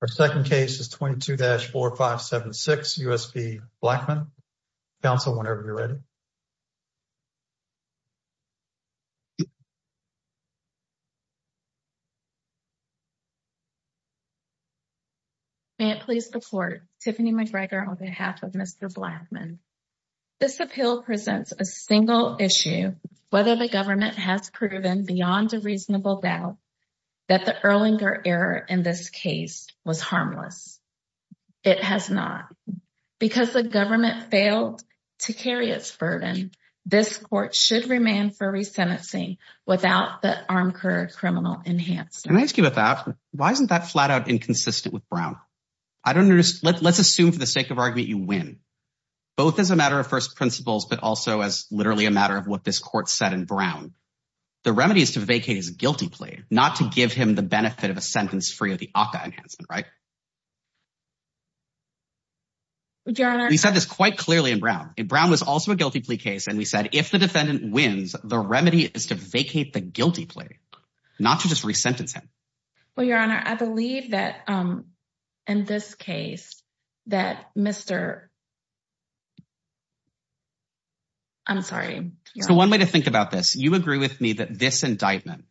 Our second case is 22-4576, U.S. v. Blackmon. Council, whenever you're ready. May it please the court, Tiffany McGregor on behalf of Mr. Blackmon. This appeal presents a single issue, whether the government has proven beyond a reasonable doubt that the Erlinger error in this case was harmless. It has not. Because the government failed to carry its burden, this court should remand for resentencing without the Armcord criminal enhancement. Can I ask you about that? Why isn't that flat out inconsistent with Brown? I don't understand. Let's assume for the sake of argument you win, both as a matter of first principles, but also as literally a matter of what this court said in Brown. The remedy is to vacate his guilty plea, not to give him the benefit of a sentence free of the ACA enhancement, right? We said this quite clearly in Brown. Brown was also a guilty plea case. And we said if the defendant wins, the remedy is to vacate the guilty plea, not to just resentence him. Well, Your Honor, I believe that in this case, that Mr. I'm sorry. So one way to think about this, you agree with me that this indictment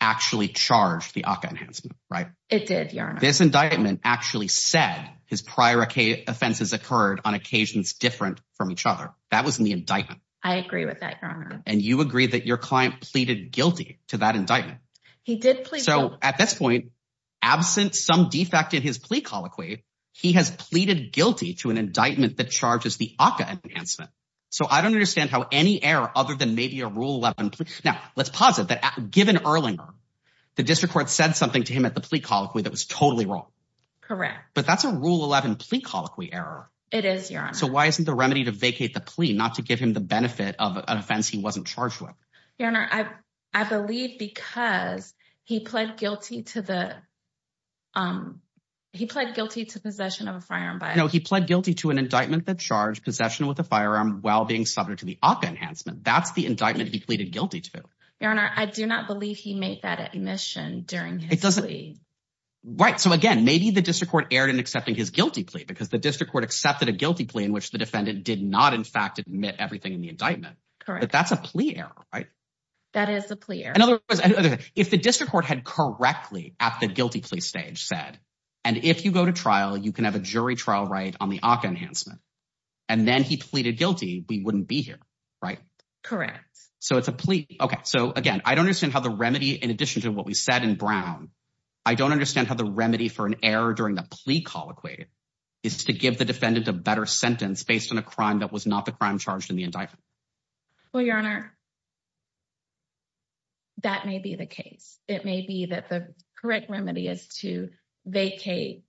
actually charged the ACA enhancement, right? It did, Your Honor. This indictment actually said his prior offenses occurred on occasions different from each other. That was in the indictment. I agree with that, Your Honor. And you agree that your client pleaded guilty to that indictment. He did plead guilty. So at this point, absent some defect in his plea colloquy, he has pleaded guilty to an indictment that charges the ACA enhancement. So I don't understand how any error other than maybe a Rule 11 plea. Now, let's posit that given Erlinger, the district court said something to him at the plea colloquy that was totally wrong. Correct. But that's a Rule 11 plea colloquy error. It is, Your Honor. So why isn't the remedy to vacate the plea, not to give him the benefit of an offense he wasn't charged with? Your Honor, I believe because he pled guilty to possession of a firearm. No, he pled guilty to an indictment that charged possession with a firearm while being subject to the ACA enhancement. That's the indictment he pleaded guilty to. Your Honor, I do not believe he made that admission during his plea. Right. So again, maybe the district court erred in accepting his guilty plea because the district court accepted a guilty plea in which the defendant did not in fact admit everything in the indictment. But that's a plea error, right? That is a plea error. In other words, if the district court had correctly at the guilty plea stage said, and if you go to trial, you can have a jury trial right on the ACA enhancement. And then he pleaded guilty, we wouldn't be here, right? Correct. So it's a plea. Okay. So again, I don't understand how the remedy in addition to what we said in Brown, I don't understand how the remedy for an error during the plea colloquy is to give the defendant a better sentence based on a crime that was not crime charged in the indictment. Well, Your Honor, that may be the case. It may be that the correct remedy is to vacate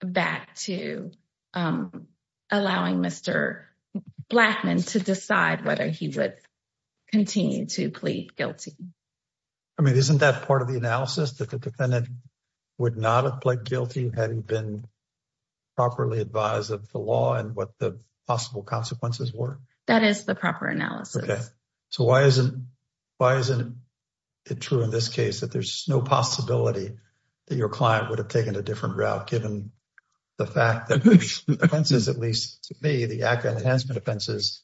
back to allowing Mr. Blackman to decide whether he would continue to plead guilty. I mean, isn't that part of the analysis that the defendant would not have pled guilty having been properly advised of the law and what the consequences were? That is the proper analysis. Okay. So why isn't it true in this case that there's no possibility that your client would have taken a different route given the fact that offenses, at least to me, the ACA enhancement offenses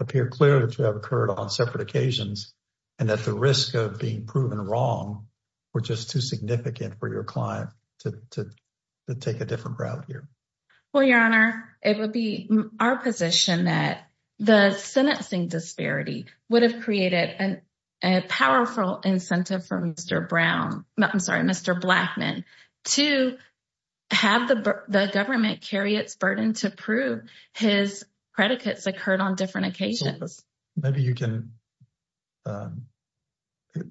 appear clear to have occurred on separate occasions and that the risk of being proven wrong were just too significant for your client to take a different route here? Well, Your Honor, it would be our position that the sentencing disparity would have created a powerful incentive for Mr. Brown, I'm sorry, Mr. Blackman to have the government carry its burden to prove his predicates occurred on different occasions. Maybe you can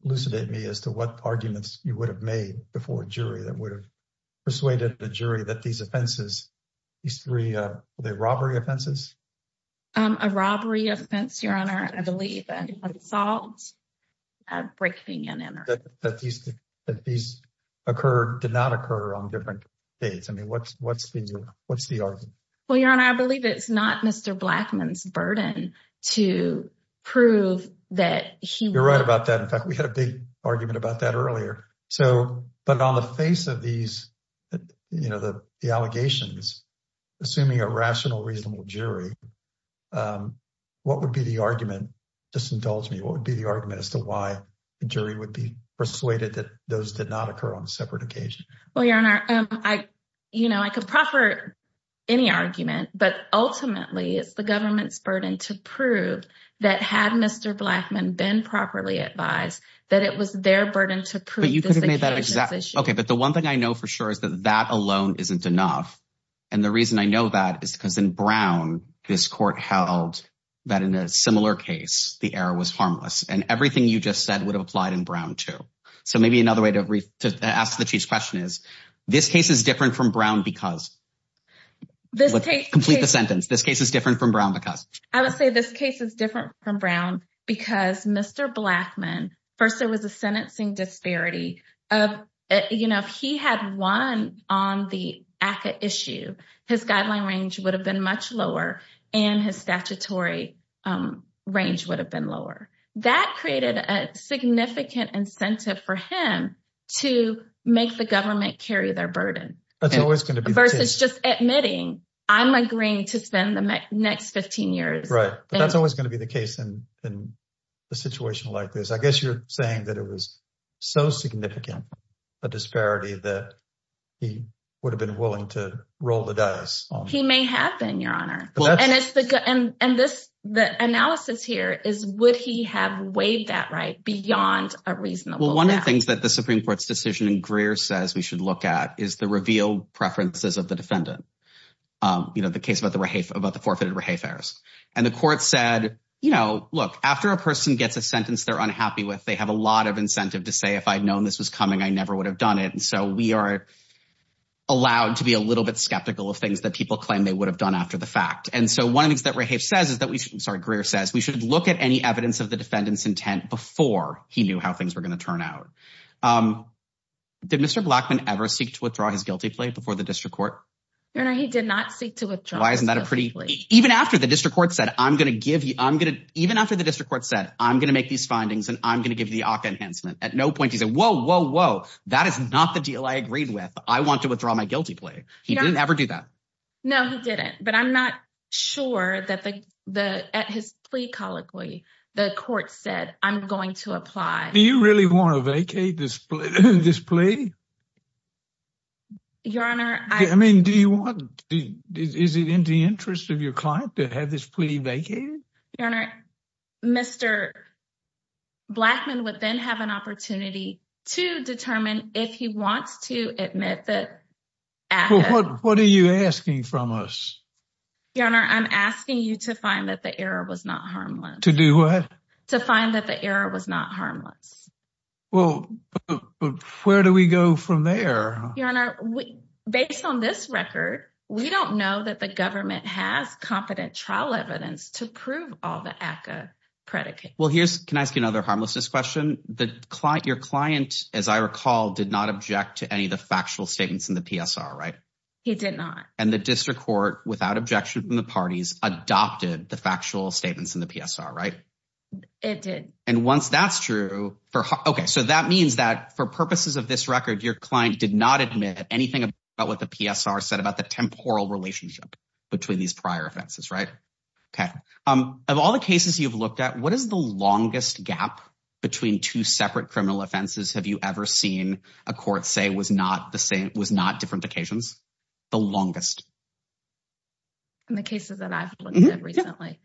elucidate me as to what arguments you would have made before a jury that would have persuaded the jury that these offenses, these three, were they robbery offenses? A robbery offense, Your Honor, I believe. An assault, a breaking and entering. That these occurred, did not occur on different dates. I mean, what's the argument? Well, Your Honor, I believe it's not Mr. Blackman's burden to prove that he... You're right about that. In fact, we had a big argument about that earlier. So, but on the face of these, you know, the allegations, assuming a rational, reasonable jury, what would be the argument? Just indulge me. What would be the argument as to why the jury would be persuaded that those did not occur on separate occasions? Well, Your Honor, you know, I could proffer any argument, but ultimately, it's the government's burden to prove that had Mr. Blackman been properly advised, that it was their burden to prove this occasion's issue. Okay. But the one thing I know for sure is that that alone isn't enough. And the reason I know that is because in Brown, this court held that in a similar case, the error was harmless and everything you just said would have applied in Brown too. So maybe another way to ask the Chief's question is, this case is different from Brown because... Complete the sentence. This case is different from Brown because... I would say this case is different from Brown because Mr. Blackman, first there was a sentencing disparity of, you know, if he had won on the ACCA issue, his guideline range would have been much lower and his statutory range would have been lower. That created a significant incentive for him to make the government carry their burden. That's always going to be the case. Versus just admitting, I'm agreeing to spend the next 15 years. Right. But that's always going to be the case in a situation like this. I guess you're saying that it was so significant a disparity that he would have been willing to roll the dice. He may have been, Your Honor. And the analysis here is, would he have weighed that right beyond a reasonable doubt? Well, one of the things that the Supreme Court's decision in Greer says we should look at is the reveal preferences of the defendant. You know, the case about the forfeited rehafers. And the court said, you know, look, after a person gets a sentence they're unhappy with, they have a lot of incentive to say, if I'd known this was coming, I never would have done it. So we are allowed to be a little bit skeptical of things that people claim they would have done after the fact. And so one of the things that Rehafe says is that we should, sorry, Greer says, we should look at any evidence of the defendant's intent before he knew how things were going to turn out. Did Mr. Blackman ever seek to withdraw his guilty plea before the district court? Your Honor, he did not seek to withdraw his guilty plea. Why isn't that a pretty, even after the district court said, I'm going to give you, I'm going to, even after the district court said, I'm going to make these findings and I'm going to give you at no point, he said, whoa, whoa, whoa. That is not the deal I agreed with. I want to withdraw my guilty plea. He didn't ever do that. No, he didn't. But I'm not sure that the, the, at his plea colloquy, the court said, I'm going to apply. Do you really want to vacate this plea? Your Honor. I mean, do you want, is it in the interest of your client to have this plea vacated? Your Honor, Mr. Blackman would then have an opportunity to determine if he wants to admit that. What are you asking from us? Your Honor, I'm asking you to find that the error was not harmless. To do what? To find that the error was not harmless. Well, where do we go from there? Your Honor, based on this record, we don't know that the government has competent trial evidence to prove all the ACCA predicates. Well, here's, can I ask you another harmlessness question? The client, your client, as I recall, did not object to any of the factual statements in the PSR, right? He did not. And the district court without objection from the parties adopted the factual statements in the PSR, right? It did. And once that's true for, okay, so that means that for purposes of this record, your client did not admit anything about what the PSR said about the temporal relationship between these prior offenses, right? Okay. Of all the cases you've looked at, what is the longest gap between two separate criminal offenses have you ever seen a court say was not the same, was not different occasions? The longest. In the cases that I've looked at recently,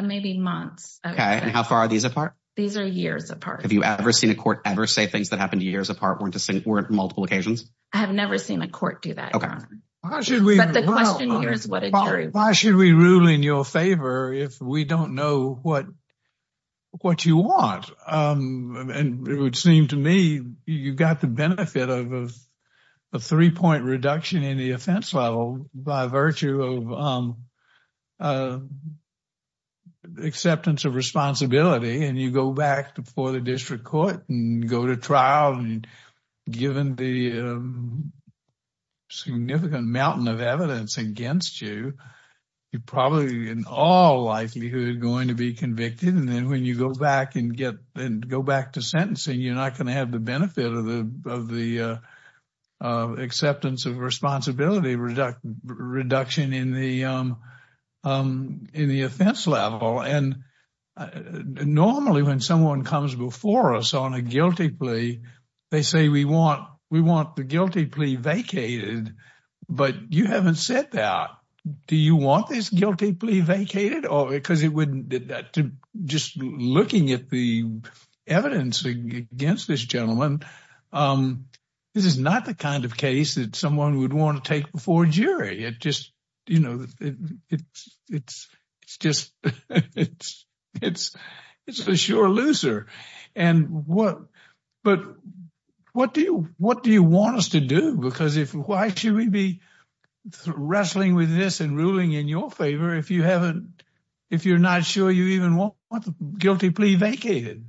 maybe months. Okay. And how far are these apart? These are years apart. Have you ever seen a court ever say things that happened years apart weren't multiple occasions? I have never seen a court do that. Why should we rule in your favor if we don't know what you want? And it would seem to me you've got the benefit of a three point reduction in the offense level by virtue of acceptance of responsibility. And you go back before the district court and go to trial and given the significant mountain of evidence against you, you're probably in all likelihood going to be And then when you go back and go back to sentencing, you're not going to have the benefit of the acceptance of responsibility reduction in the offense level. And normally when someone comes before us on a guilty plea, they say we want the guilty plea vacated. But you haven't said that. Do you want this guilty plea vacated? Just looking at the evidence against this gentleman, this is not the kind of case that someone would want to take before a jury. You know, it's a sure loser. But what do you want us to do? Because why should we be wrestling with this and ruling in your favor if you're not sure you even want the guilty plea vacated?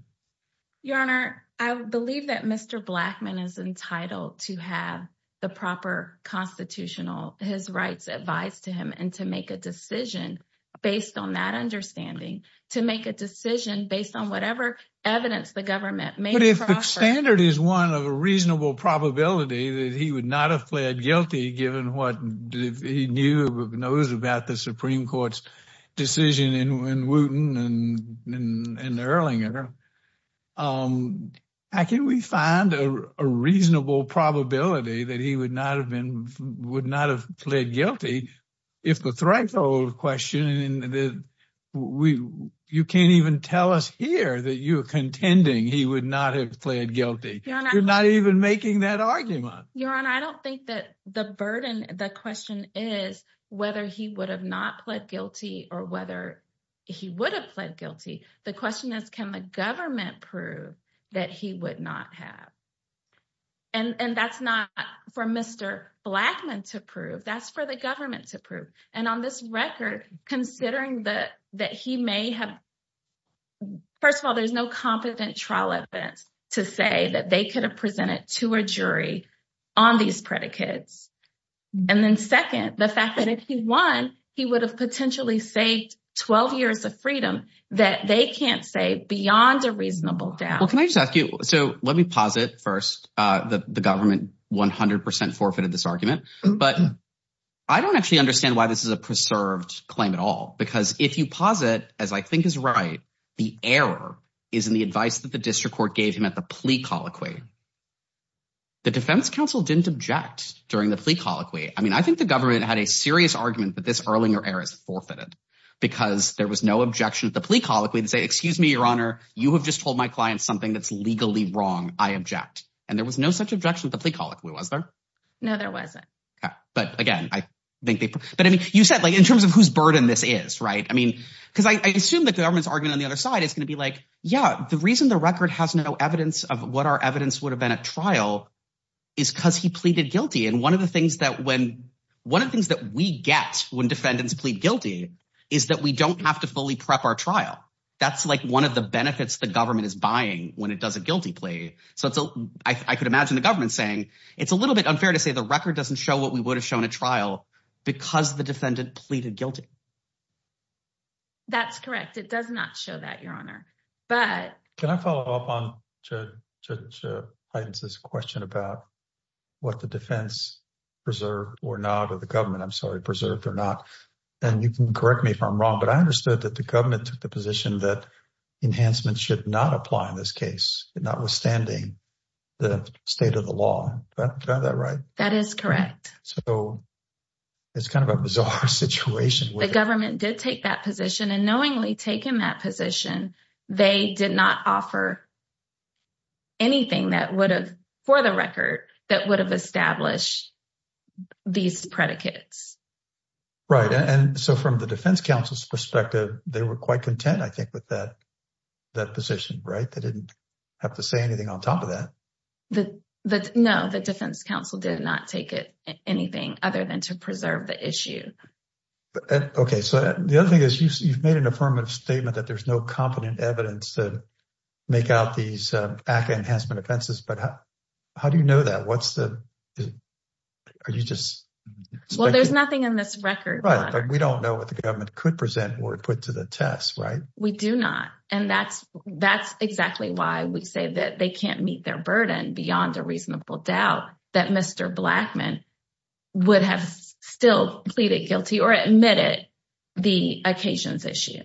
Your Honor, I believe that Mr. Blackmun is entitled to have the proper constitutional, his rights advised to him. And to make a decision based on that understanding, to make a decision based on whatever evidence the government made. But if the standard is one of a reasonable probability that he would not have pled guilty given what he knew or knows about the Supreme Court's decision in Wooten and Erlinger, how can we find a reasonable probability that he would not have been, would not have pled guilty if the threshold question, you can't even tell us here that you're contending he would not have pled guilty. You're not even making that argument. Your Honor, I don't think that the burden, the question is whether he would have not pled guilty or whether he would have pled guilty. The question is, can the government prove that he would not have? And that's not for Mr. Blackmun to prove, that's for the government to prove. And on this record, considering that he may have, first of all, there's no competent trial evidence to say that they could have presented to a jury on these predicates. And then second, the fact that if he won, he would have potentially saved 12 years of freedom that they can't say beyond a reasonable doubt. Well, can I just ask you, so let me posit first that the government 100% forfeited this argument, but I don't actually understand why this is a preserved claim at all. Because if you posit, as I think is right, the error is in the advice that the district court gave him at the plea colloquy. The defense counsel didn't object during the plea colloquy. I mean, I think the government had a serious argument that this Erlinger error is forfeited because there was no objection at the plea colloquy to say, excuse me, your honor, you have just told my client something that's legally wrong, I object. And there was no such objection at the plea colloquy, was there? No, there wasn't. But again, I think they, but I mean, you said like in terms of whose burden this is, right? I mean, because I assume that the government's argument on the other side is going to be like, yeah, the reason the record has no evidence of what our evidence would have been at trial is because he pleaded guilty. And one of the things that we get when defendants plead guilty is that we don't have to fully prep our trial. That's like one of the benefits the government is buying when it does a guilty plea. So I could imagine the government saying, it's a little bit unfair to say the record doesn't show what we would have shown at trial because the defendant pleaded guilty. That's correct. It does not show that, your honor. Can I follow up on Judge Heiden's question about what the defense preserved or not, or the government, I'm sorry, preserved or not? And you can correct me if I'm wrong, but I understood that the government took the position that enhancements should not apply in this case, notwithstanding the state of the law. Is that right? That is correct. So it's kind of a bizarre situation. The government did take that position and knowingly taking that position, they did not offer anything that would have, for the record, that would have established these predicates. Right. And so from the defense counsel's perspective, they were quite content, I think, with that position, right? They didn't have to say anything on top of that. No, the defense counsel did not take anything other than to preserve the issue. But, okay. So the other thing is you've made an affirmative statement that there's no competent evidence to make out these ACA enhancement offenses. But how do you know that? What's the, are you just... Well, there's nothing in this record. Right, but we don't know what the government could present or put to the test, right? We do not. And that's exactly why we say that they can't meet their burden beyond a reasonable doubt that Mr. Blackmun would have still pleaded guilty or admitted the occasions issue.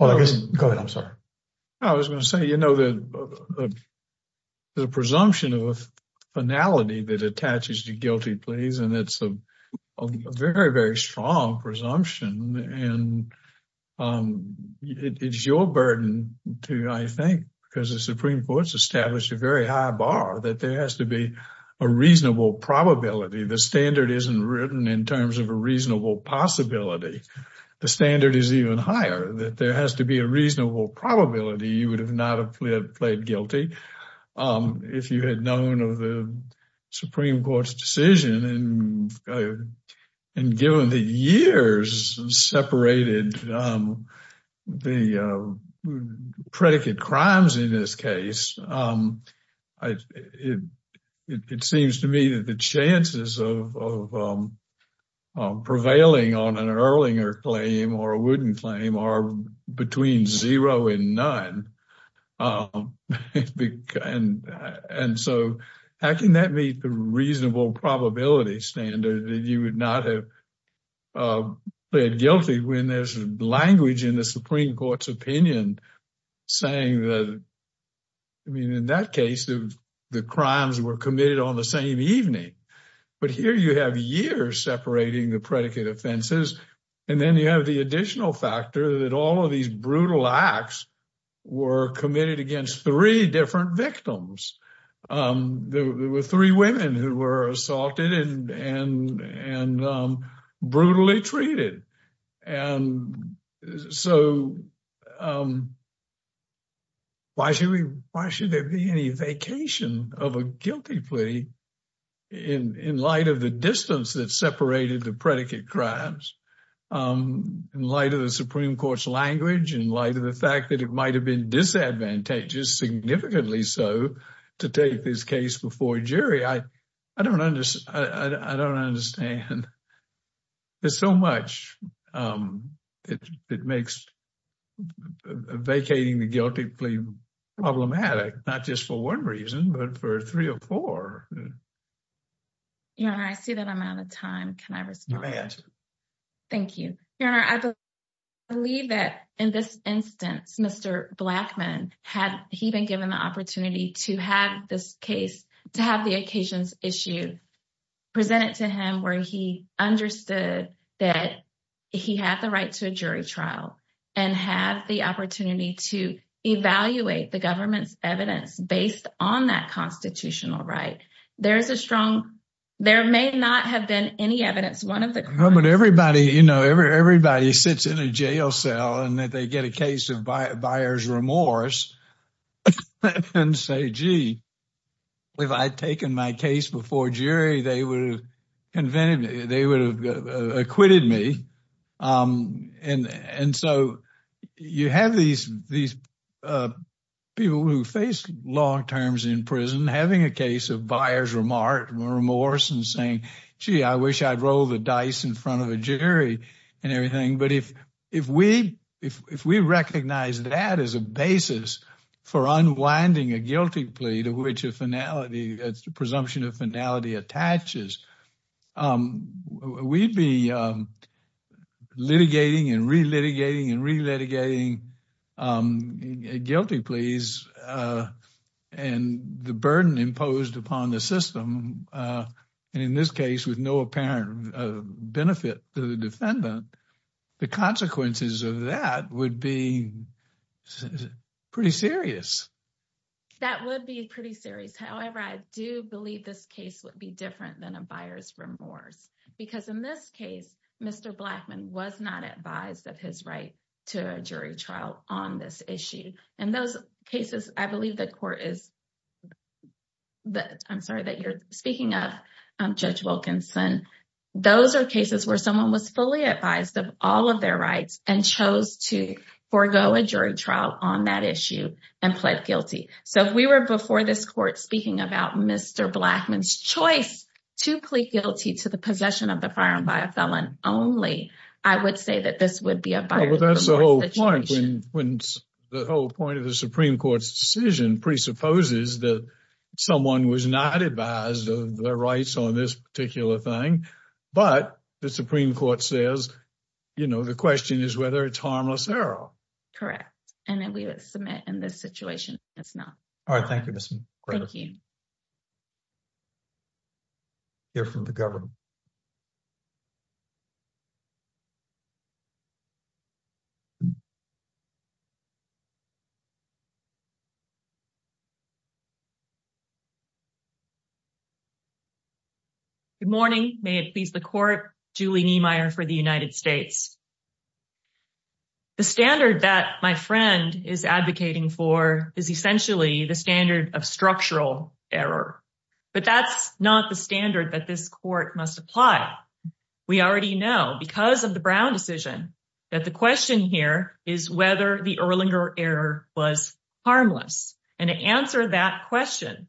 Well, I guess... Go ahead, I'm sorry. I was going to say, you know, the presumption of finality that attaches to guilty pleas, and it's a very, very strong presumption. And it's your burden, too, I think, because the Supreme Court's established a very high bar that there has to be a reasonable probability. The standard isn't written in terms of a reasonable possibility. The standard is even higher that there has to be a reasonable probability you would have not have pled guilty if you had known of the Supreme Court's decision. And given the years separated the predicate crimes in this case, it seems to me that the chances of prevailing on an Erlinger claim or a Wooden claim are between zero and none. And so, how can that meet the reasonable probability standard that you would not have pled guilty when there's language in the Supreme Court's opinion saying that I mean, in that case, the crimes were committed on the same evening. But here you have years separating the predicate offenses. And then you have the additional factor that all of these brutal acts were committed against three different victims. There were three women who were assaulted and brutally treated. And so, why should there be any vacation of a guilty plea in light of the distance that separated the predicate crimes? In light of the Supreme Court's language, in light of the fact that it might have been disadvantageous, significantly so, to take this case before jury, I don't understand. There's so much that makes vacating the guilty plea problematic, not just for one reason, but for three or four. Your Honor, I see that I'm out of time. Can I respond? You may answer. Thank you. Your Honor, I believe that in this instance, Mr. Blackman, had he been given the opportunity to have this case, to have the occasions issued, presented to him where he understood that he had the right to a jury trial and have the opportunity to evaluate the government's evidence based on that constitutional right. There is a strong, there may not have been any evidence, one of the- But everybody, you know, everybody sits in a jail cell and that they get a case of buyer's remorse and say, gee, if I'd taken my case before jury, they would have acquitted me. And so, you have these people who face long terms in prison having a case of buyer's remorse and saying, gee, I wish I'd rolled the dice in front of a jury and everything. But if we recognize that as a basis for unwinding a guilty plea to which a finality, presumption of finality attaches, we'd be litigating and re-litigating and re-litigating guilty pleas and the burden imposed upon the system, and in this case with no apparent benefit to the defendant, the consequences of that would be pretty serious. That would be pretty serious. However, I do believe this case would be different than a buyer's remorse, because in this case, Mr. Blackmon was not advised of his right to a jury trial on this issue. In those cases, I believe the court is... I'm sorry that you're speaking of Judge Wilkinson. Those are cases where someone was fully advised of all of their rights and chose to forego a jury trial on that issue and pled guilty. So, if we were before this court speaking about Mr. Blackmon's choice to plead guilty to the possession of the firearm by a felon only, I would say that this would be a buyer's remorse. When the whole point of the Supreme Court's decision presupposes that someone was not advised of their rights on this particular thing, but the Supreme Court says, you know, the question is whether it's harmless error. Correct. And then we would submit in this situation, it's not. All right. Thank you, Ms. McGregor. Thank you. Hear from the government. Good morning. May it please the court, Julie Niemeyer for the United States. The standard that my friend is advocating for is essentially the standard of structural error, but that's not the standard that this court must apply. We already know because of the Brown decision that the question here is whether the Erlinger error was harmless. And to answer that question,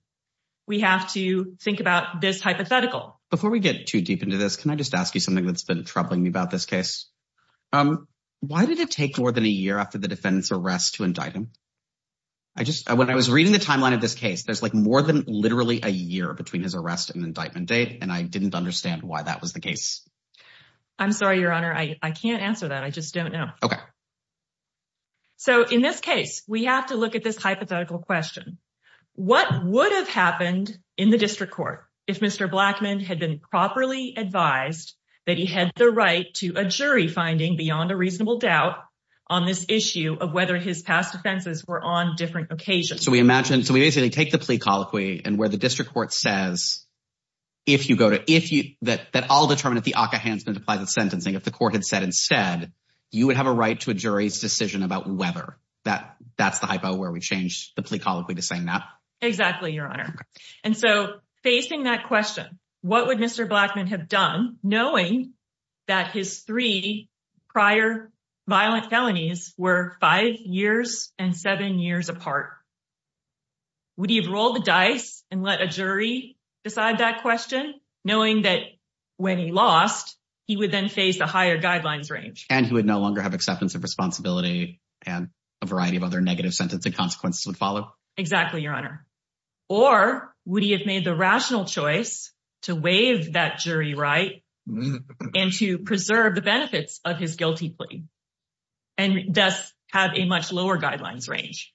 we have to think about this hypothetical. Before we get too deep into this, can I just ask you something that's been troubling me about this case? Why did it take more than a year after the defendant's arrest to indict him? When I was reading the timeline of this case, there's like more than literally a year between his arrest and indictment date. And I didn't understand why that was the case. I'm sorry, your honor, I can't answer that. I just don't know. Okay. So in this case, we have to look at this hypothetical question. What would have happened in the district court if Mr. Blackmon had been properly advised that he had the right to a jury finding beyond a reasonable doubt on this issue of whether his past offenses were on different occasions? So we basically take the plea colloquy and where the district court says, if you go to if you that, that all determined if the Ockahansman applies the sentencing, if the court had said instead, you would have a right to a jury's decision about whether that that's the hypo where we changed the plea colloquy to saying that. Exactly, your honor. And so facing that question, what would Mr. Blackmon have done knowing that his three prior violent felonies were five years and seven years apart? Would he have rolled the dice and let a jury decide that question knowing that when he lost, he would then face the higher guidelines range. And he would no longer have acceptance of responsibility and a variety of other negative sentencing consequences would follow. Exactly, your honor. Or would he have made the rational choice to waive that jury right and to preserve the benefits of his guilty plea and thus have a much lower guidelines range?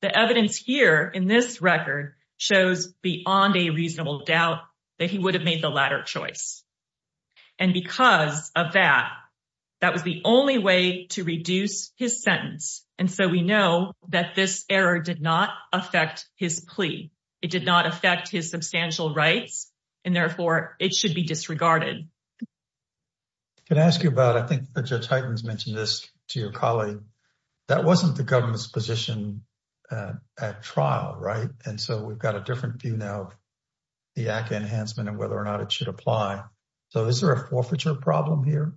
The evidence here in this record shows beyond a reasonable doubt that he would have made the latter choice. And because of that, that was the only way to reduce his sentence. And so we know that this error did not affect his plea. It did not affect his substantial rights, and therefore it should be disregarded. Can I ask you about, I think Judge Heitens mentioned this to your colleague, that wasn't the government's position at trial, right? And so we've got a different view now of the ACA enhancement and whether or not it should apply. So is there a forfeiture problem here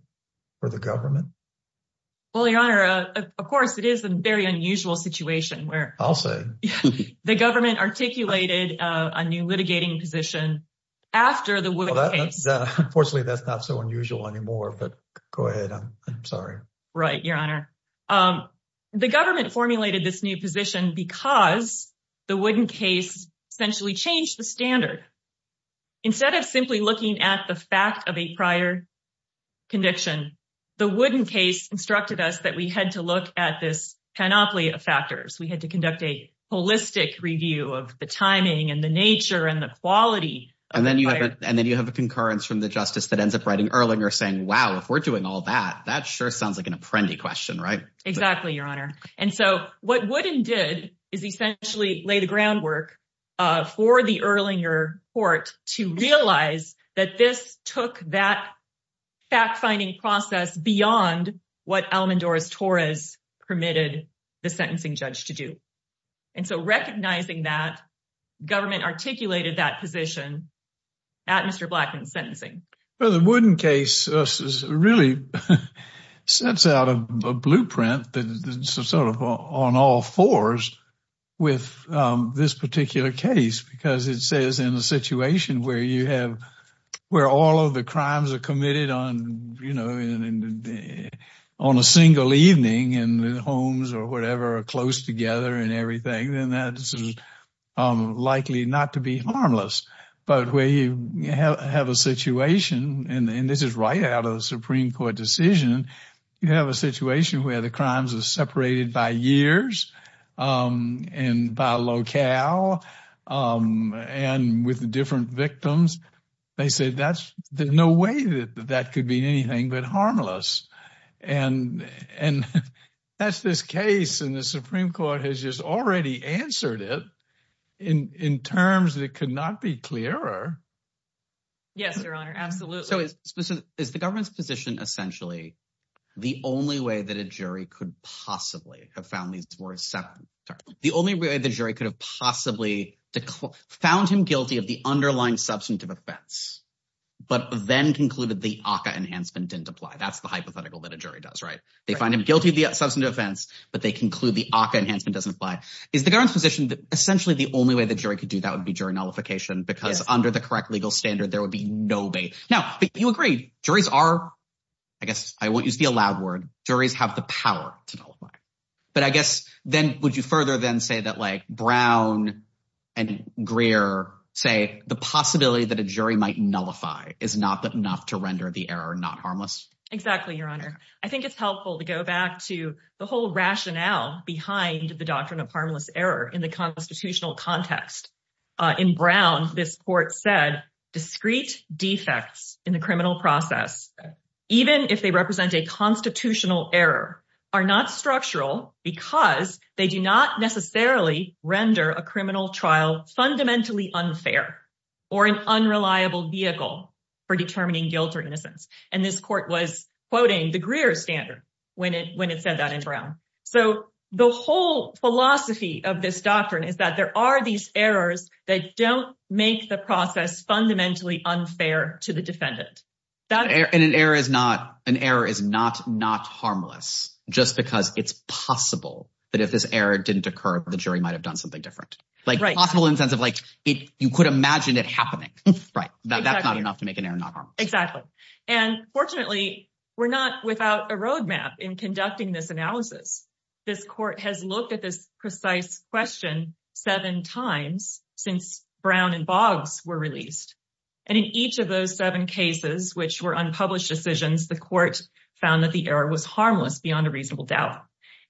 for the government? Well, your honor, of course, it is a very unusual situation where the government articulated a new litigating position after the case. Unfortunately, that's not so unusual anymore, but go ahead. I'm sorry. Right, your honor. The government formulated this new position because the Wooden case essentially changed the standard. Instead of simply looking at the fact of a prior conviction, the Wooden case instructed us that we had to look at this panoply of factors. We had to conduct a holistic review of the timing and the nature and the quality. And then you have a concurrence from the justice that ends up writing Erlinger saying, wow, if we're doing all that, that sure sounds like an apprendi question, right? Exactly, your honor. And so what Wooden did is essentially lay the groundwork for the Erlinger court to realize that this took that fact-finding process beyond what Alamandor's torres permitted the sentencing judge to do. And so recognizing that, government articulated that position at Mr. Blackman's sentencing. Well, the Wooden case really sets out a blueprint that's sort of on all fours with this particular case because it says in a situation where you have, where all of the crimes are committed on, you know, on a single evening and the homes or whatever are close together and everything, then that's likely not to be harmless. But where you have a situation, and this is right out of the Supreme Court decision, you have a situation where the crimes are separated by years and by locale and with different victims. They say that's, there's no way that that could mean anything but harmless. And that's this case and the Supreme Court has just already answered it in terms that could not be clearer. Yes, your honor. Absolutely. So is the government's position essentially the only way that a jury could possibly have found these were separate, the only way the jury could have possibly found him guilty of the underlying substantive offense, but then concluded the ACA enhancement didn't apply? That's the hypothetical that a jury does, right? They find him guilty of the substantive offense, but they conclude the ACA enhancement doesn't apply. Is the government's position that essentially the only way the jury could do that would be during nullification because under the correct legal standard, there would be no bait. Now, but you agree, juries are, I guess I won't use the allowed word, juries have the power to nullify. But I guess then would you further then say that like Brown and Greer say the possibility that a jury might nullify is not enough to render the error, not harmless. Exactly, your honor. I think it's helpful to go back to the whole rationale behind the doctrine of harmless error in the constitutional context. In Brown, this court said discrete defects in the criminal process, even if they represent a constitutional error, are not structural because they do not necessarily render a criminal trial fundamentally unfair or an unreliable vehicle for determining guilt or innocence. And this court was quoting the Greer standard when it said that in Brown. So the whole philosophy of this doctrine is that there are these errors that don't make the process fundamentally unfair to the defendant. And an error is not, an error is not not harmless just because it's possible that if this error didn't occur, the jury might have done something different. Like possible in the sense of like you could imagine it happening. Right, that's not enough to make an error not harmless. Exactly. And fortunately, we're not without a roadmap in conducting this analysis. This court has looked at this precise question seven times since Brown and Boggs were released. And in each of those seven cases, which were unpublished decisions, the court found that the error was harmless beyond a reasonable doubt.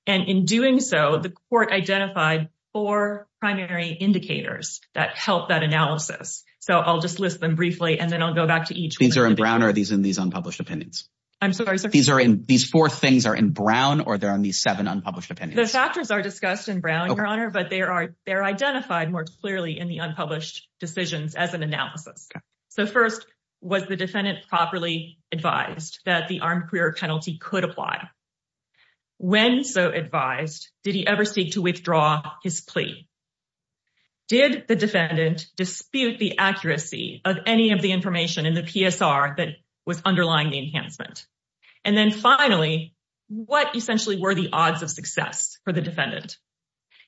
And in doing so, the court identified four primary indicators that help that analysis. So I'll just list them briefly and then I'll go back to each. These are in Brown or these in these unpublished opinions? I'm sorry, sir. These are in, these four things are in Brown or they're in these seven unpublished opinions? The factors are discussed in Brown, your honor, but there are, they're identified more clearly in the unpublished decisions as an analysis. So first, was the defendant properly advised that the armed career penalty could apply? When so advised, did he ever seek to withdraw his plea? Did the defendant dispute the accuracy of any of the information in the PSR that was underlying the enhancement? And then finally, what essentially were the odds of success for the defendant?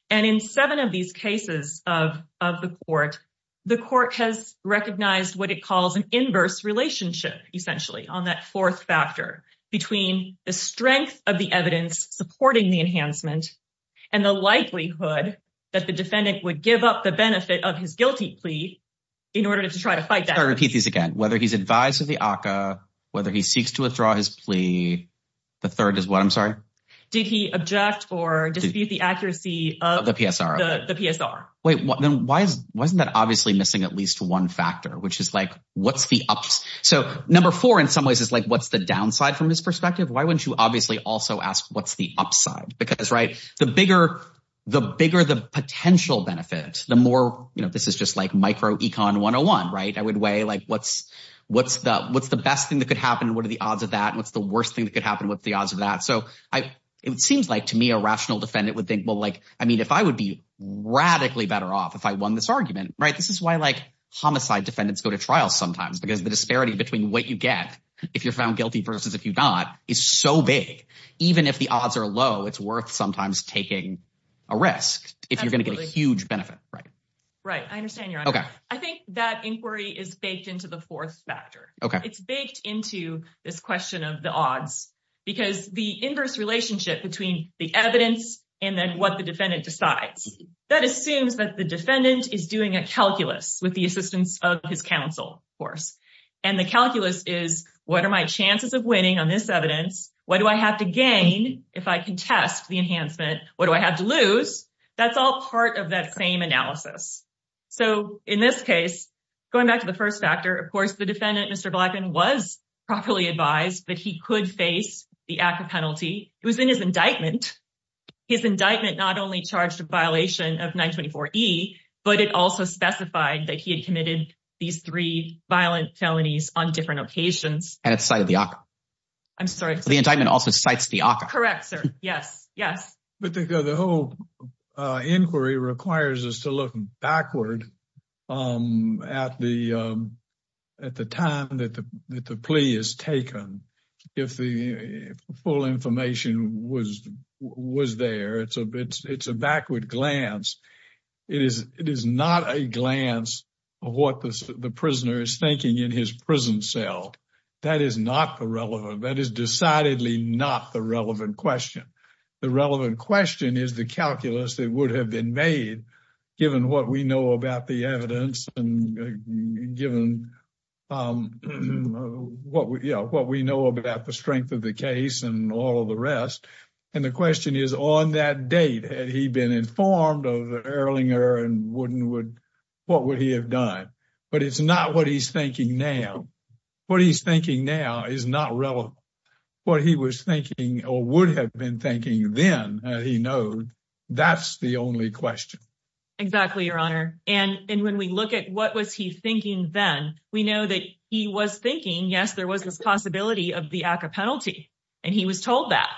And in seven of these cases of the court, the court has recognized what it calls an inverse relationship, essentially, on that fourth factor between the strength of the evidence supporting the enhancement and the likelihood that the defendant would give up the benefit of his guilty plea in order to try to fight that. I'll repeat these again. Whether he's advised of the ACA, whether he seeks to withdraw his plea, the third is what? I'm sorry. Did he object or dispute the accuracy of the PSR? The PSR. Wait, then why isn't that obviously missing at least one factor, which is like, what's the ups? So number four, in some ways, is like, what's the downside from his perspective? Why wouldn't you obviously also ask what's the upside? Because, right? The bigger, the bigger, the potential benefit, the more, you know, this is just like micro econ 101, right? I would weigh like, what's, what's the, what's the best thing that could happen? And what are the odds of that? And what's the worst thing that could happen with the odds of that? So I, it seems like to me, a rational defendant would think, well, like, I mean, if I would be radically better off, if I won this argument, right, this is why like homicide defendants go to trial sometimes, because the disparity between what you get, if you're found guilty versus if you got is so big, even if the odds are low, it's worth sometimes taking a risk if you're going to get a huge benefit, right? Right. I understand. I think that inquiry is baked into the fourth factor. It's baked into this question of the odds, because the inverse relationship between the evidence and then what the defendant decides, that assumes that the defendant is doing a calculus with the assistance of his counsel, of course. And the calculus is, what are my chances of winning on this evidence? What do I have to gain? If I can test the enhancement, what do I have to lose? That's all part of that same analysis. So in this case, going back to the first factor, of course, the defendant, Mr. Blackman was properly advised that he could face the ACCA penalty. It was in his indictment. His indictment not only charged a violation of 924E, but it also specified that he had committed these three violent felonies on different occasions. And it's cited the ACCA. I'm sorry. The indictment also cites the ACCA. Correct, sir. Yes, yes. But the whole inquiry requires us to look backward at the time that the plea is taken. If the full information was there, it's a backward glance. It is not a glance of what the prisoner is thinking in his prison cell. That is not the relevant, that is decidedly not the relevant question. The relevant question is the calculus that would have been made, given what we know about the evidence and given what we know about the strength of the case and all of the rest. And the question is, on that date, had he been informed of the Erlinger and Woodenwood, what would he have done? But it's not what he's thinking now. What he's thinking now is not relevant. What he was thinking or would have been thinking then, he knows, that's the only question. Exactly, Your Honor. And when we look at what was he thinking then, we know that he was thinking, yes, there was this possibility of the ACCA penalty. And he was told that.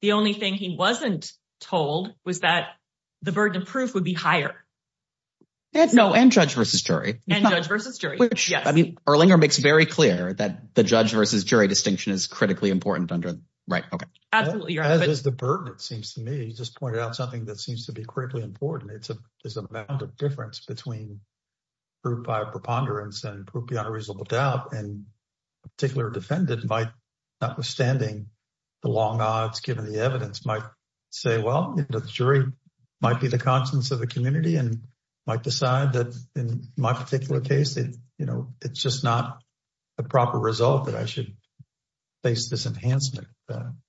The only thing he wasn't told was that the burden of proof would be higher. No, and judge versus jury. And judge versus jury, yes. Erlinger makes very clear that the judge versus jury distinction is critically important. As is the burden, it seems to me. He just pointed out something that seems to be critically important. It's an amount of difference between proof by a preponderance and proof beyond a reasonable doubt. And a particular defendant might, notwithstanding the long odds given the evidence, might say, well, the jury might be the conscience of the community and might decide that in my particular case, it's just not a proper result that I should face this enhancement.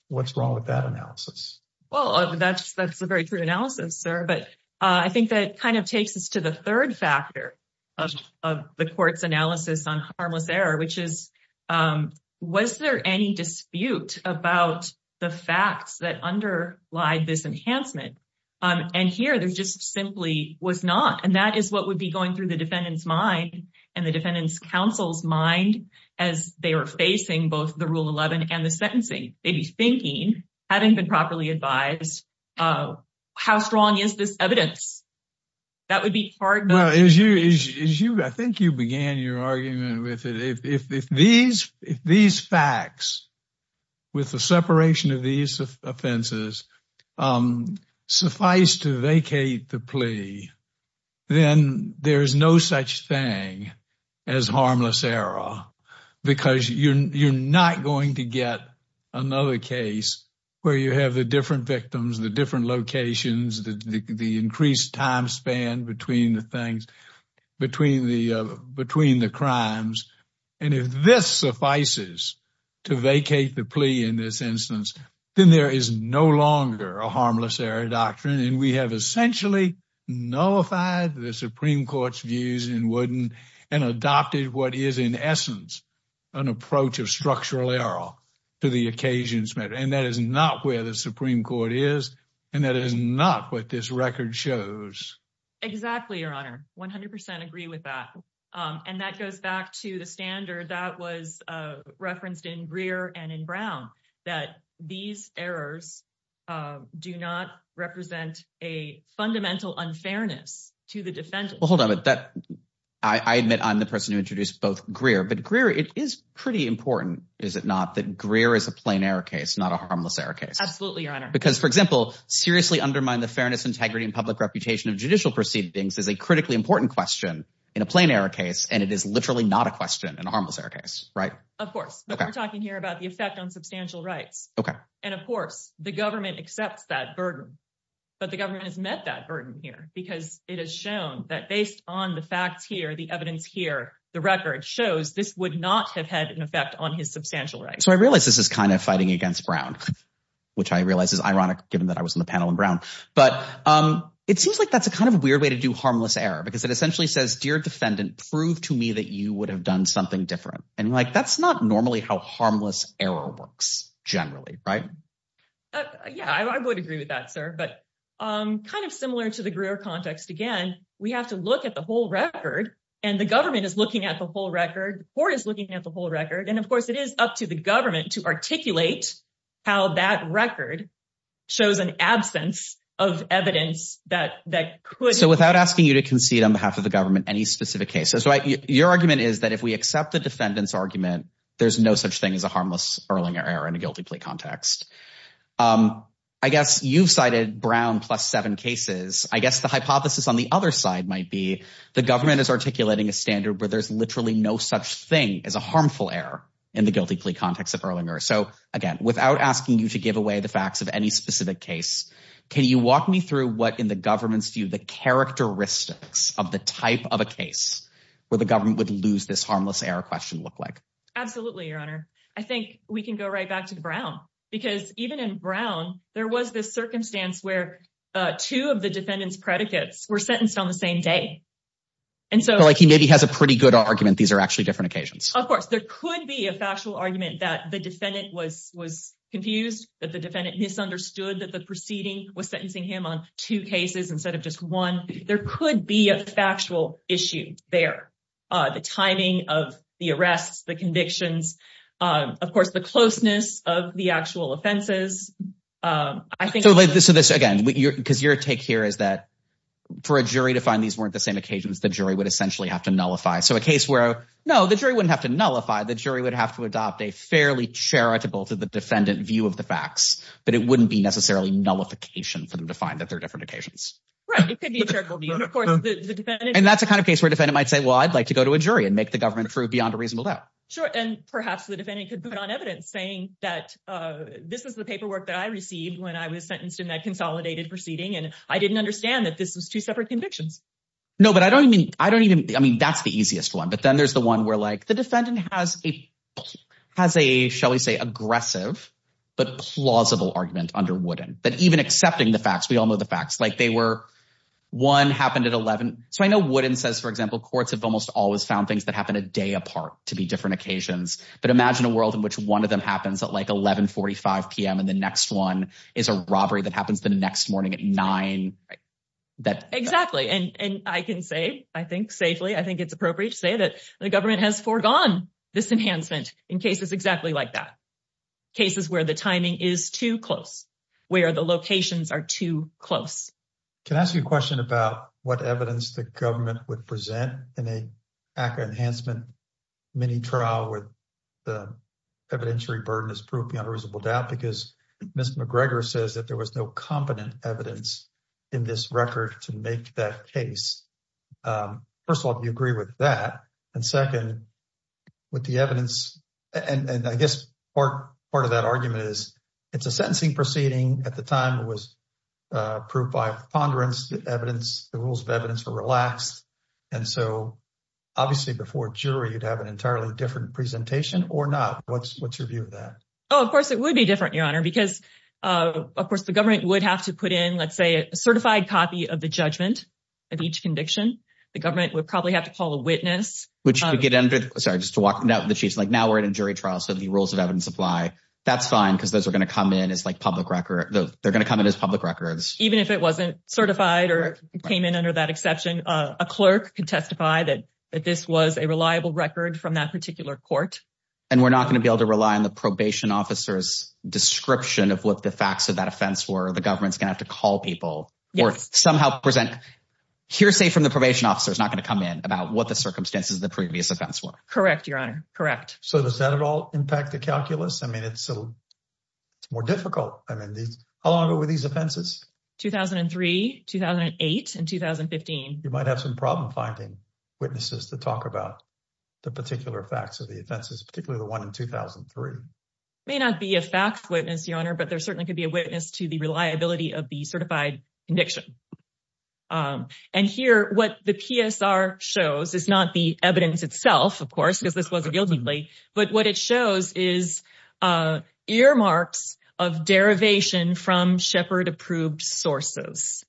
What's wrong with that analysis? Well, that's a very true analysis, sir. But I think that kind of takes us to the third factor of the court's analysis on harmless error, which is, was there any dispute about the facts that underlie this enhancement? And here, there just simply was not. And that is what would be going through the defendant's mind and the defendant's counsel's mind as they are facing both the Rule 11 and the sentencing. They'd be thinking, having been properly advised, how strong is this evidence? That would be part of- Well, as you, I think you began your argument with it. If these facts, with the separation of these offenses, suffice to vacate the plea, then there is no such thing as harmless error, because you're not going to get another case where you have the different victims, the different locations, the increased time span between the things, between the crimes. And if this suffices to vacate the plea in this instance, then there is no longer a harmless error doctrine. And we have essentially nullified the Supreme Court's views in Wooden and adopted what is, in essence, an approach of structural error to the occasions matter. And that is not where the Supreme Court is. And that is not what this record shows. Exactly, Your Honor. 100% agree with that. And that goes back to the standard that was referenced in Greer and in Brown, that these errors do not represent a fundamental unfairness to the defendant. Well, hold on, I admit I'm the person who introduced both Greer, but Greer, it is pretty important, is it not, that Greer is a plain error case, not a harmless error case? Absolutely, Your Honor. Because, for example, seriously undermine the fairness, integrity, and public reputation of judicial proceedings is a critically important question in a plain error case, and it is literally not a question in a harmless error case, right? Of course. But we're talking here about the effect on substantial rights. Okay. And, of course, the government accepts that burden, but the government has met that burden here because it has shown that based on the facts here, the evidence here, the record shows this would not have had an effect on his substantial rights. So I realize this is kind of fighting against Brown, which I realize is ironic, given that I was on the panel in Brown. But it seems like that's a kind of weird way to do harmless error, because it essentially says, dear defendant, prove to me that you would have done something different. That's not normally how harmless error works, generally, right? Yeah, I would agree with that, sir. But kind of similar to the Greer context, again, we have to look at the whole record, and the government is looking at the whole record. The court is looking at the whole record. And, of course, it is up to the government to articulate how that record shows an absence of evidence that could. So without asking you to concede on behalf of the government any specific cases, your argument is that if we accept the defendant's argument, there's no such thing as a harmless Erlinger error in a guilty plea context. I guess you've cited Brown plus seven cases. I guess the hypothesis on the other side might be the government is articulating a standard where there's literally no such thing as a harmful error in the guilty plea context of Erlinger. So again, without asking you to give away the facts of any specific case, can you walk me through what, in the government's view, the characteristics of the type of a case where the government would lose this harmless error question look like? Absolutely, Your Honor. I think we can go right back to the Brown. Because even in Brown, there was this circumstance where two of the defendant's predicates were sentenced on the same day. And so he maybe has a pretty good argument. These are actually different occasions. Of course, there could be a factual argument that the defendant was confused, that the defendant misunderstood that the proceeding was sentencing him on two cases instead of just one. There could be a factual issue there. The timing of the arrests, the convictions, of course, the closeness of the actual offenses. I think this again, because your take here is that for a jury to find these weren't the same occasions, the jury would essentially have to nullify. So a case where, no, the jury wouldn't have to nullify. The jury would have to adopt a fairly charitable to the defendant view of the facts. But it wouldn't be necessarily nullification for them to find that they're different occasions. Right. It could be a charitable view. Of course, the defendant. And that's the kind of case where a defendant might say, well, I'd like to go to a jury and make the government prove beyond a reasonable doubt. Sure. And perhaps the defendant could put on evidence saying that this is the paperwork that I received when I was sentenced in that consolidated proceeding. And I didn't understand that this was two separate convictions. No, but I don't even, I don't even, I mean, that's the easiest one. But then there's the one where, like, the defendant has a, shall we say, aggressive, but plausible argument under Wooden. But even accepting the facts, we all know the facts. Like they were, one happened at 11. So I know Wooden says, for example, courts have almost always found things that happen a day apart to be different occasions. But imagine a world in which one of them happens at like 11.45 PM. And the next one is a robbery that happens the next morning at nine. Exactly. And I can say, I think safely, I think it's appropriate to say that the government has foregone this enhancement in cases exactly like that. Cases where the timing is too close, where the locations are too close. Can I ask you a question about what evidence the government would present in a ACCA enhancement mini trial where the evidentiary burden is proved beyond reasonable doubt? Because Ms. McGregor says that there was no competent evidence in this record to make that case. First of all, do you agree with that? And second, with the evidence, and I guess part of that argument is, it's a sentencing proceeding. At the time, it was proved by ponderance, the evidence, the rules of evidence were relaxed. And so obviously, before a jury, you'd have an entirely different presentation or not. What's your view of that? Oh, of course, it would be different, Your Honor, because, of course, the government would have to put in, let's say, a certified copy of the judgment of each conviction. The government would probably have to call a witness. Which would get into, sorry, just to walk the sheets, like now we're in a jury trial, so the rules of evidence apply. That's fine, because those are going to come in as public records. Even if it wasn't certified or came in under that exception, a clerk could testify that this was a reliable record from that particular court. And we're not going to be able to rely on the probation officer's description of what the facts of that offense were. The government's going to have to call people or somehow present. Hearsay from the probation officer is not going to come in about what the circumstances of the previous offense were. Correct, Your Honor. Correct. So does that at all impact the calculus? I mean, it's more difficult. I mean, how long ago were these offenses? 2003, 2008, and 2015. You might have some problem finding witnesses to talk about the particular facts of the offenses, particularly the one in 2003. May not be a fact witness, Your Honor, but there certainly could be a witness to the reliability of the certified conviction. And here, what the PSR shows is not the evidence itself, of course, because this wasn't guilty, but what it shows is earmarks of derivation from Shepard-approved sources.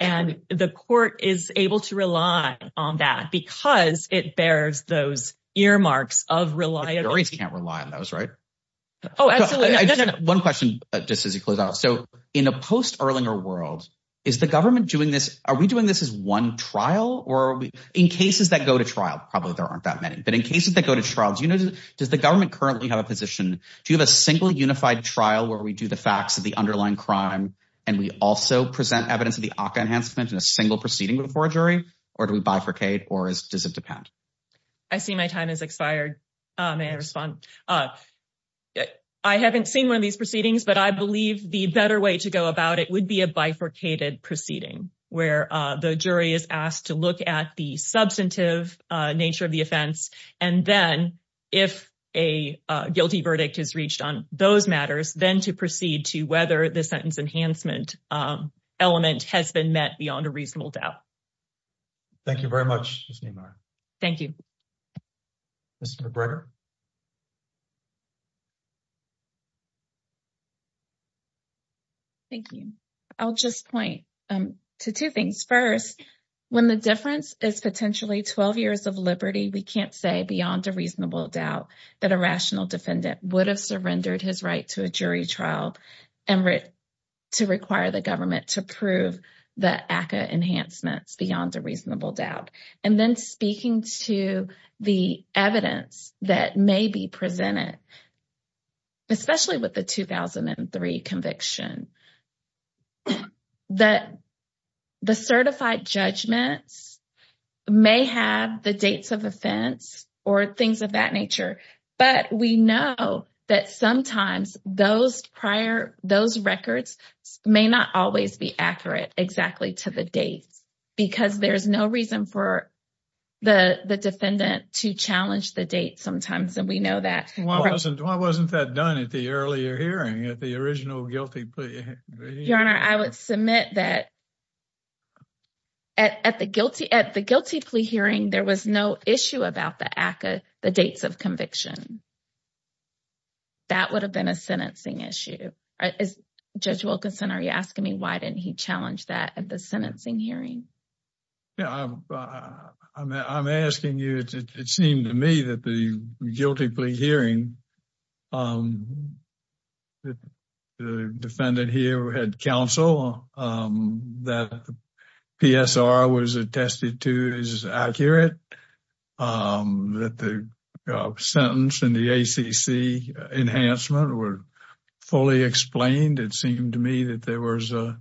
And the court is able to rely on that because it bears those earmarks of reliability. Juries can't rely on those, right? Oh, absolutely. One question, just as you close out. In a post-Erlinger world, are we doing this as one trial? In cases that go to trial, probably there aren't that many, but in cases that go to trial, does the government currently have a position? Do you have a single unified trial where we do the facts of the underlying crime, and we also present evidence of the AHCA enhancement in a single proceeding before a jury? Or do we bifurcate? Or does it depend? I see my time has expired. May I respond? I haven't seen one of these proceedings, but I believe the better way to go about it would be a bifurcated proceeding where the jury is asked to look at the substantive nature of the offense. And then, if a guilty verdict is reached on those matters, then to proceed to whether the sentence enhancement element has been met beyond a reasonable doubt. Thank you very much, Ms. Niemeyer. Thank you. Mr. McGregor? Thank you. I'll just point to two things. First, when the difference is potentially 12 years of liberty, we can't say beyond a reasonable doubt that a rational defendant would have surrendered his right to a jury trial and to require the government to prove the AHCA enhancements beyond a reasonable doubt. And then, speaking to the evidence that may be presented, especially with the 2003 conviction, that the certified judgments may have the dates of offense or things of that nature. But we know that sometimes those records may not always be accurate exactly to the date because there's no reason for the defendant to challenge the date sometimes. And we know that. Why wasn't that done at the earlier hearing, at the original guilty plea hearing? Your Honor, I would submit that at the guilty plea hearing, there was no issue about the dates of conviction. That would have been a sentencing issue. Is Judge Wilkinson, are you asking me why didn't he challenge that at the sentencing hearing? Yeah, I'm asking you. It seemed to me that the guilty plea hearing, the defendant here had counsel, that the PSR was attested to as accurate, that the sentence and the ACC enhancement were fully explained. It seemed to me that there was the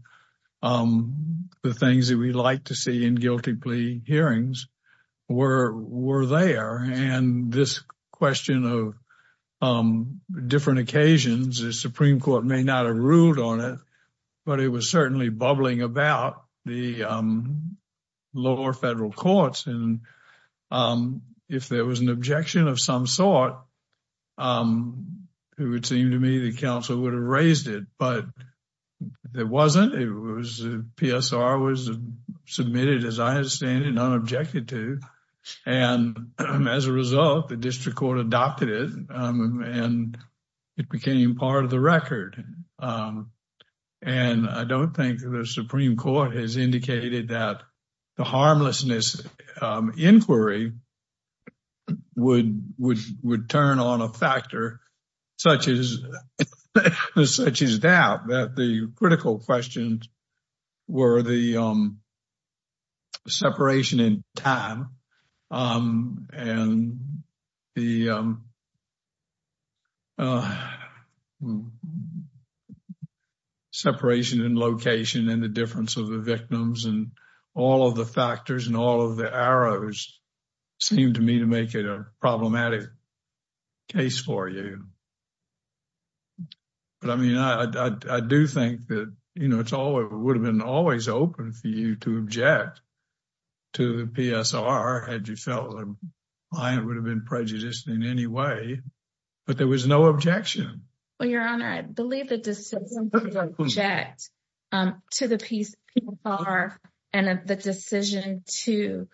things that we like to see in guilty plea hearings were there. And this question of different occasions, the Supreme Court may not have ruled on it, but it was certainly bubbling about the lower federal courts. And if there was an objection of some sort, it would seem to me the counsel would have raised it. But there wasn't. It was PSR was submitted as I understand it, not objected to. And as a result, the district court adopted it and it became part of the record. And I don't think the Supreme Court has indicated that the harmlessness inquiry would turn on a factor such as doubt that the critical questions were the separation in time and the separation in location and the difference of the victims and all of the arrows seemed to me to make it a problematic case for you. But I mean, I do think that, you know, it's all it would have been always open for you to object to the PSR had you felt the client would have been prejudiced in any way. But there was no objection. Well, Your Honor, I believe the decision to object to the PSR and the decision to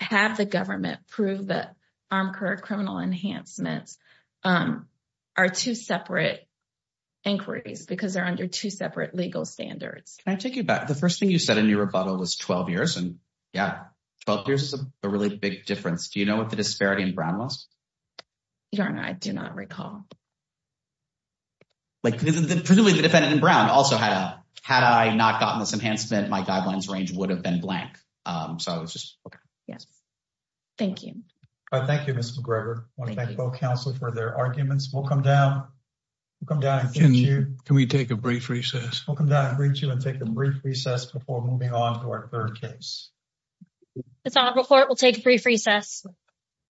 have the government prove that armed criminal enhancements are two separate inquiries because they're under two separate legal standards. Can I take you back? The first thing you said in your rebuttal was 12 years. And yeah, 12 years is a really big difference. Do you know what the disparity in Brown was? Your Honor, I do not recall. Like the defendant in Brown also had a had I not gotten this enhancement, my guidelines range would have been blank. So it's just yes. Thank you. All right. Thank you, Mr. McGregor. I want to thank both counsel for their arguments. We'll come down. We'll come down. Can we take a brief recess? We'll come down and reach you and take a brief recess before moving on to our third case. It's on report. We'll take a brief recess.